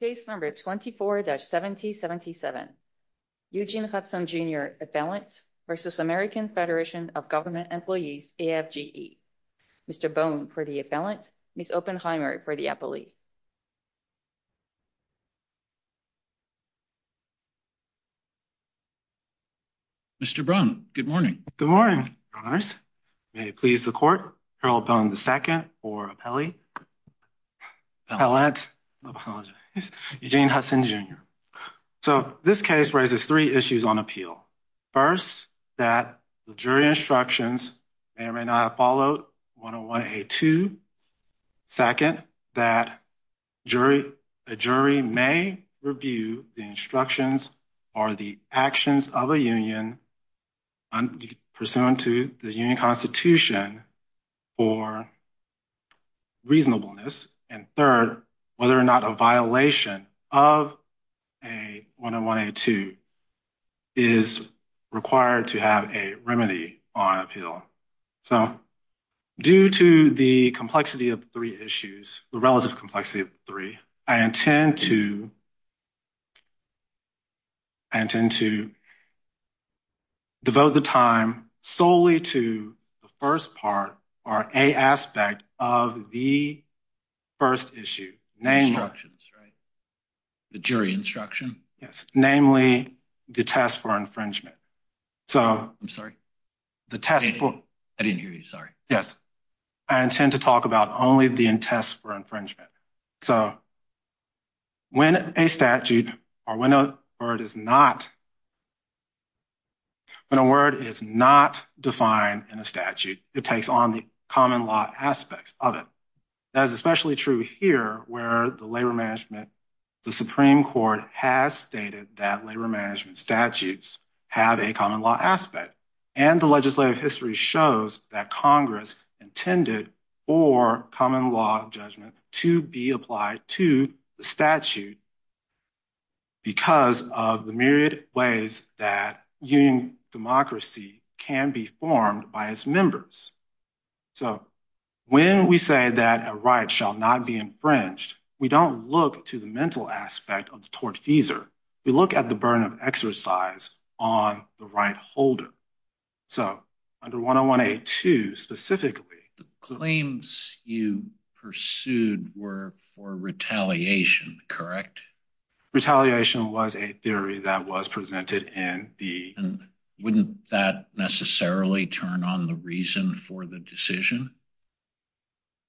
Case No. 24-7077, Eugene Hudson, Jr. Appellant v. American Federation of Government Employees, AFGE. Mr. Bone for the appellant, Ms. Oppenheimer for the appellee. Mr. Braun, good morning. Good morning, Your Honors. May it please the Court, Appellant, Eugene Hudson, Jr. So, this case raises three issues on appeal. First, that the jury instructions may or may not have followed 101A2. Second, that a jury may review the instructions or the actions of a union pursuant to the union constitution for reasonableness. And third, whether or not a violation of 101A2 is required to have a remedy on appeal. So, due to the complexity of three issues, the relative complexity of three, I intend to devote the time solely to the first part or A aspect of the first issue. The jury instruction? Yes. Namely, the test for infringement. I'm sorry? I didn't hear you. Sorry. Yes. I intend to talk about only the test for infringement. So, when a statute or when a word is not defined in a statute, it takes on the common law aspects of it. That is especially true here where the labor management, the Supreme Court has stated that labor management statutes have a common law aspect. And the legislative history shows that Congress intended for common law judgment to be applied to the statute because of the myriad ways that union democracy can be formed by its members. So, when we say that a right shall not be infringed, we don't look to the mental aspect of the tortfeasor. We look at the burden of exercise on the right holder. So, under 101A2 specifically, The claims you pursued were for retaliation, correct? Retaliation was a theory that was presented in the Wouldn't that necessarily turn on the reason for the decision?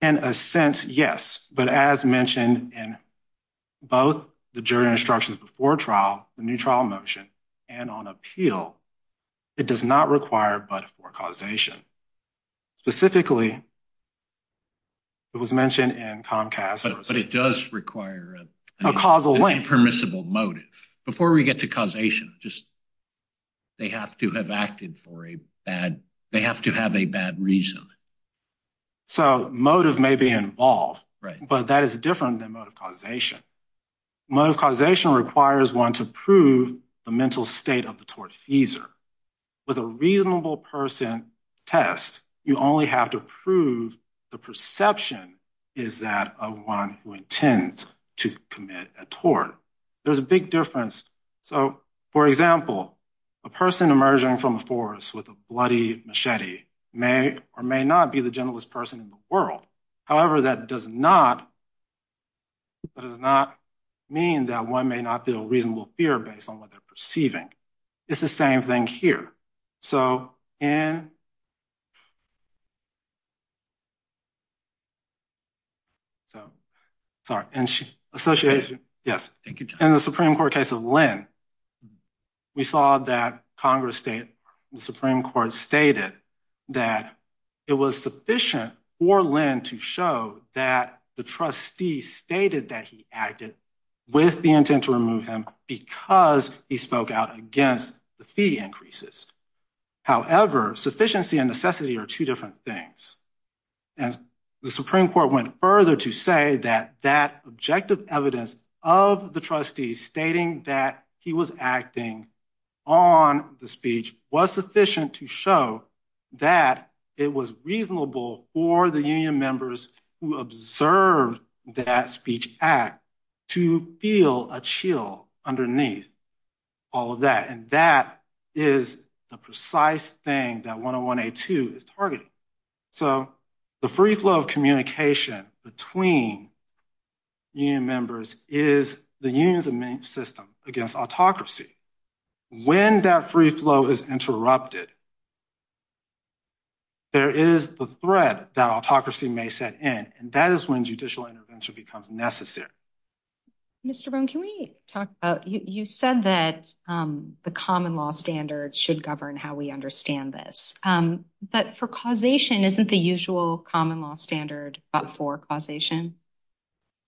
In a sense, yes. But as mentioned in both the jury instructions before trial, the new trial motion, and on appeal, it does not require but for causation. Specifically, it was mentioned in Comcast. But it does require a causal link. Before we get to causation, they have to have acted for a bad, they have to have a bad reason. So, motive may be involved, but that is different than motive causation. Motive causation requires one to prove the mental state of the tortfeasor. With a reasonable person test, you only have to prove the perception is that of one who intends to commit a tort. There's a big difference. So, for example, a person emerging from the forest with a bloody machete may or may not be the gentlest person in the world. However, that does not mean that one may not feel reasonable fear based on what they're perceiving. It's the same thing here. So, in the Supreme Court case of Lynn, we saw that Congress, the Supreme Court stated that it was sufficient for Lynn to show that the trustee stated that he acted with the intent to remove him because he spoke out against him. He spoke out against the fee increases. However, sufficiency and necessity are two different things. And the Supreme Court went further to say that that objective evidence of the trustees stating that he was acting on the speech was sufficient to show that it was reasonable for the union members who observed that speech act to feel a chill underneath all of that. And that is the precise thing that 101A2 is targeting. So, the free flow of communication between union members is the union's main system against autocracy. When that free flow is interrupted, there is the threat that autocracy may set in, and that is when judicial intervention becomes necessary. Mr. Bone, can we talk about, you said that the common law standards should govern how we understand this. But for causation, isn't the usual common law standard for causation?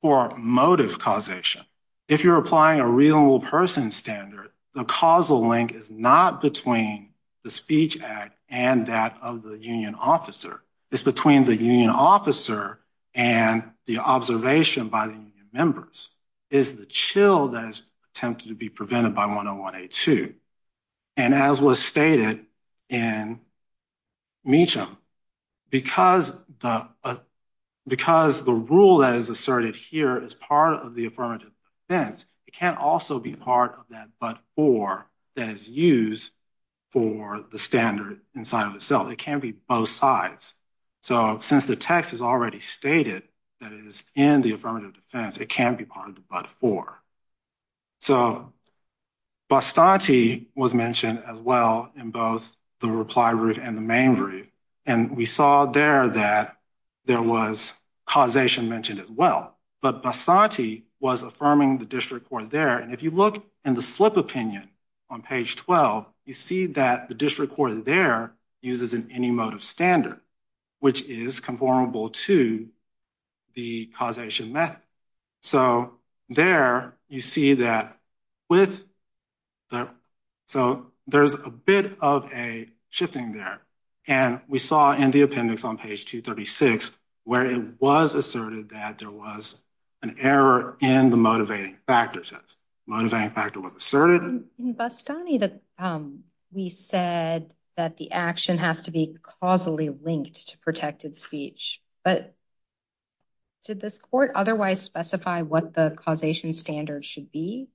For motive causation, if you're applying a reasonable person standard, the causal link is not between the speech act and that of the union officer. It's between the union officer and the observation by the union members. It's the chill that is attempted to be prevented by 101A2. And as was stated in Meacham, because the rule that is asserted here is part of the affirmative defense, it can't also be part of that but-for that is used for the standard inside of itself. It can't be both sides. So, since the text is already stated that it is in the affirmative defense, it can't be part of the but-for. So, Bastanti was mentioned as well in both the reply brief and the main brief, and we saw there that there was causation mentioned as well. But Bastanti was affirming the district court there, and if you look in the slip opinion on page 12, you see that the district court there uses an any motive standard, which is conformable to the causation method. So, there you see that with-so, there's a bit of a shifting there. And we saw in the appendix on page 236 where it was asserted that there was an error in the motivating factor test. Motivating factor was asserted. In Bastanti, we said that the action has to be causally linked to protected speech, but did this court otherwise specify what the causation standard should be?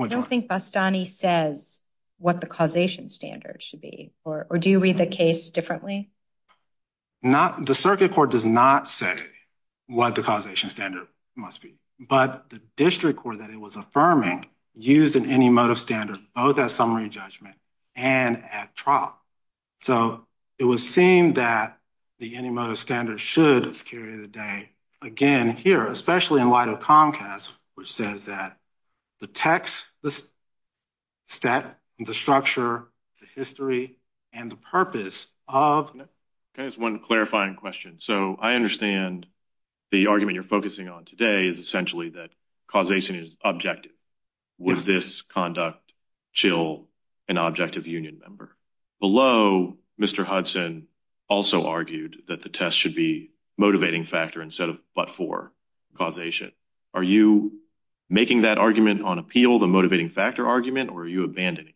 I don't think Bastanti says what the causation standard should be, or do you read the case differently? The circuit court does not say what the causation standard must be, but the district court that it was affirming used an any motive standard both at summary judgment and at trial. So, it was seen that the any motive standard should carry the day again here, especially in light of Comcast, which says that the text, the stat, the structure, the history, and the purpose of- Can I ask one clarifying question? So, I understand the argument you're focusing on today is essentially that causation is objective. Would this conduct chill an objective union member? Below, Mr. Hudson also argued that the test should be motivating factor instead of but-for causation. Are you making that argument on appeal, the motivating factor argument, or are you abandoning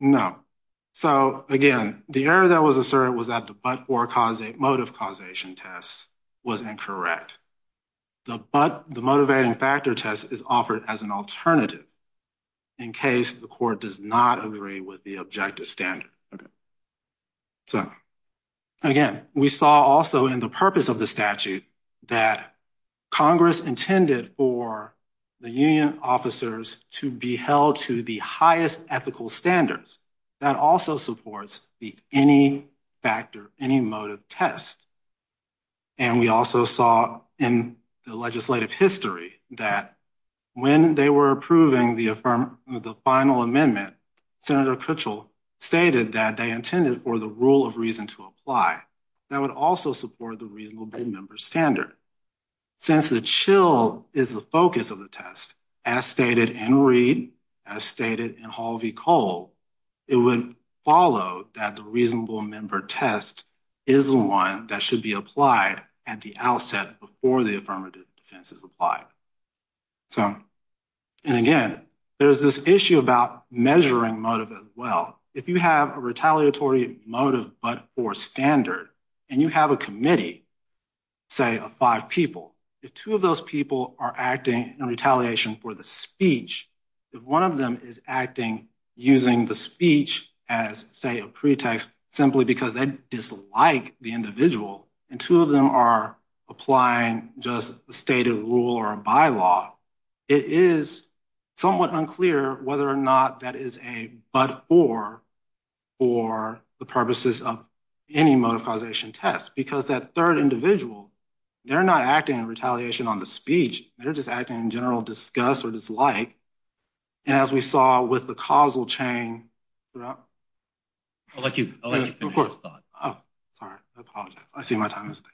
that? No. So, again, the error that was asserted was that the but-for motive causation test was incorrect. The motivating factor test is offered as an alternative in case the court does not agree with the objective standard. So, again, we saw also in the purpose of the statute that Congress intended for the union officers to be held to the highest ethical standards. That also supports the any factor, any motive test. And we also saw in the legislative history that when they were approving the final amendment, Senator Kutchel stated that they intended for the rule of reason to apply. That would also support the reasonable member standard. Since the chill is the focus of the test, as stated in Reed, as stated in Hall v. Cole, it would follow that the reasonable member test is the one that should be applied at the outset before the affirmative defense is applied. So, and again, there's this issue about measuring motive as well. If you have a retaliatory motive but-for standard and you have a committee, say, of five people, if two of those people are acting in retaliation for the speech, if one of them is acting using the speech as, say, a pretext simply because they dislike the individual, and two of them are applying just a stated rule or a bylaw, it is somewhat unclear whether or not that is a but-or for the purposes of any motive causation test. Because that third individual, they're not acting in retaliation on the speech. They're just acting in general disgust or dislike. And as we saw with the causal chain throughout... I'll let you finish. Of course. Oh, sorry. I apologize. I see my time is up.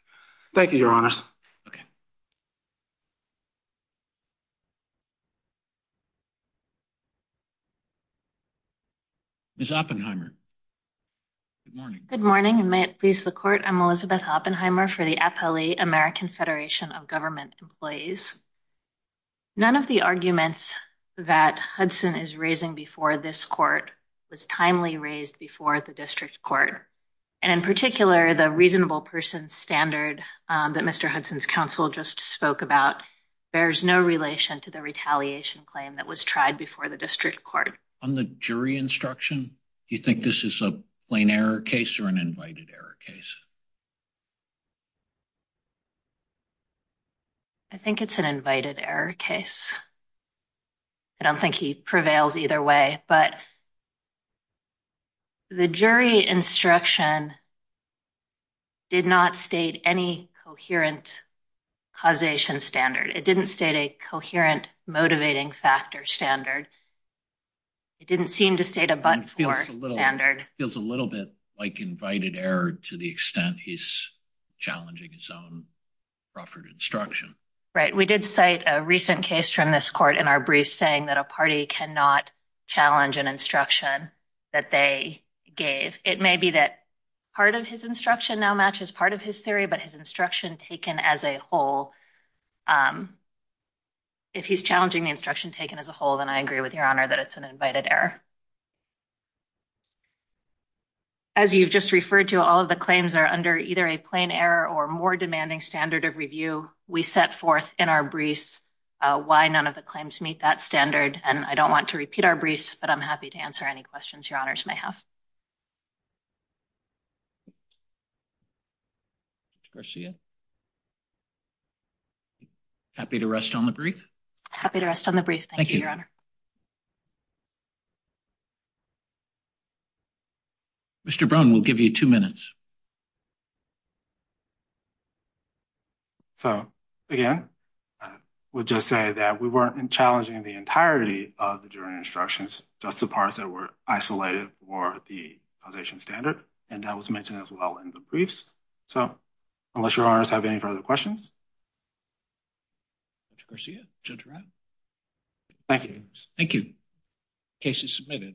Thank you, Your Honors. Okay. Ms. Oppenheimer. Good morning. Good morning. And may it please the Court, I'm Elizabeth Oppenheimer for the Appellee American Federation of Government Employees. None of the arguments that Hudson is raising before this Court was timely raised before the District Court. And in particular, the reasonable person standard that Mr. Hudson's counsel just spoke about bears no relation to the retaliation claim that was tried before the District Court. On the jury instruction, do you think this is a plain error case or an invited error case? I think it's an invited error case. I don't think he prevails either way. But the jury instruction did not state any coherent causation standard. It didn't state a coherent motivating factor standard. It didn't seem to state a but-for standard. It feels a little bit like invited error to the extent he's challenging his own proffered instruction. Right. We did cite a recent case from this Court in our brief saying that a party cannot challenge an instruction that they gave. It may be that part of his instruction now matches part of his theory, but his instruction taken as a whole, if he's challenging the instruction taken as a whole, then I agree with Your Honor that it's an invited error. As you've just referred to, all of the claims are under either a plain error or more demanding standard of review. We set forth in our briefs why none of the claims meet that standard, and I don't want to repeat our briefs, but I'm happy to answer any questions Your Honors may have. Ms. Garcia? Happy to rest on the brief? Happy to rest on the brief. Thank you, Your Honor. Thank you. Mr. Brown, we'll give you two minutes. So, again, I would just say that we weren't challenging the entirety of the jury instructions, just the parts that were isolated for the causation standard, and that was mentioned as well in the briefs. So, unless Your Honors have any further questions? Mr. Garcia? Judge Ryan? Thank you. Thank you. The case is submitted.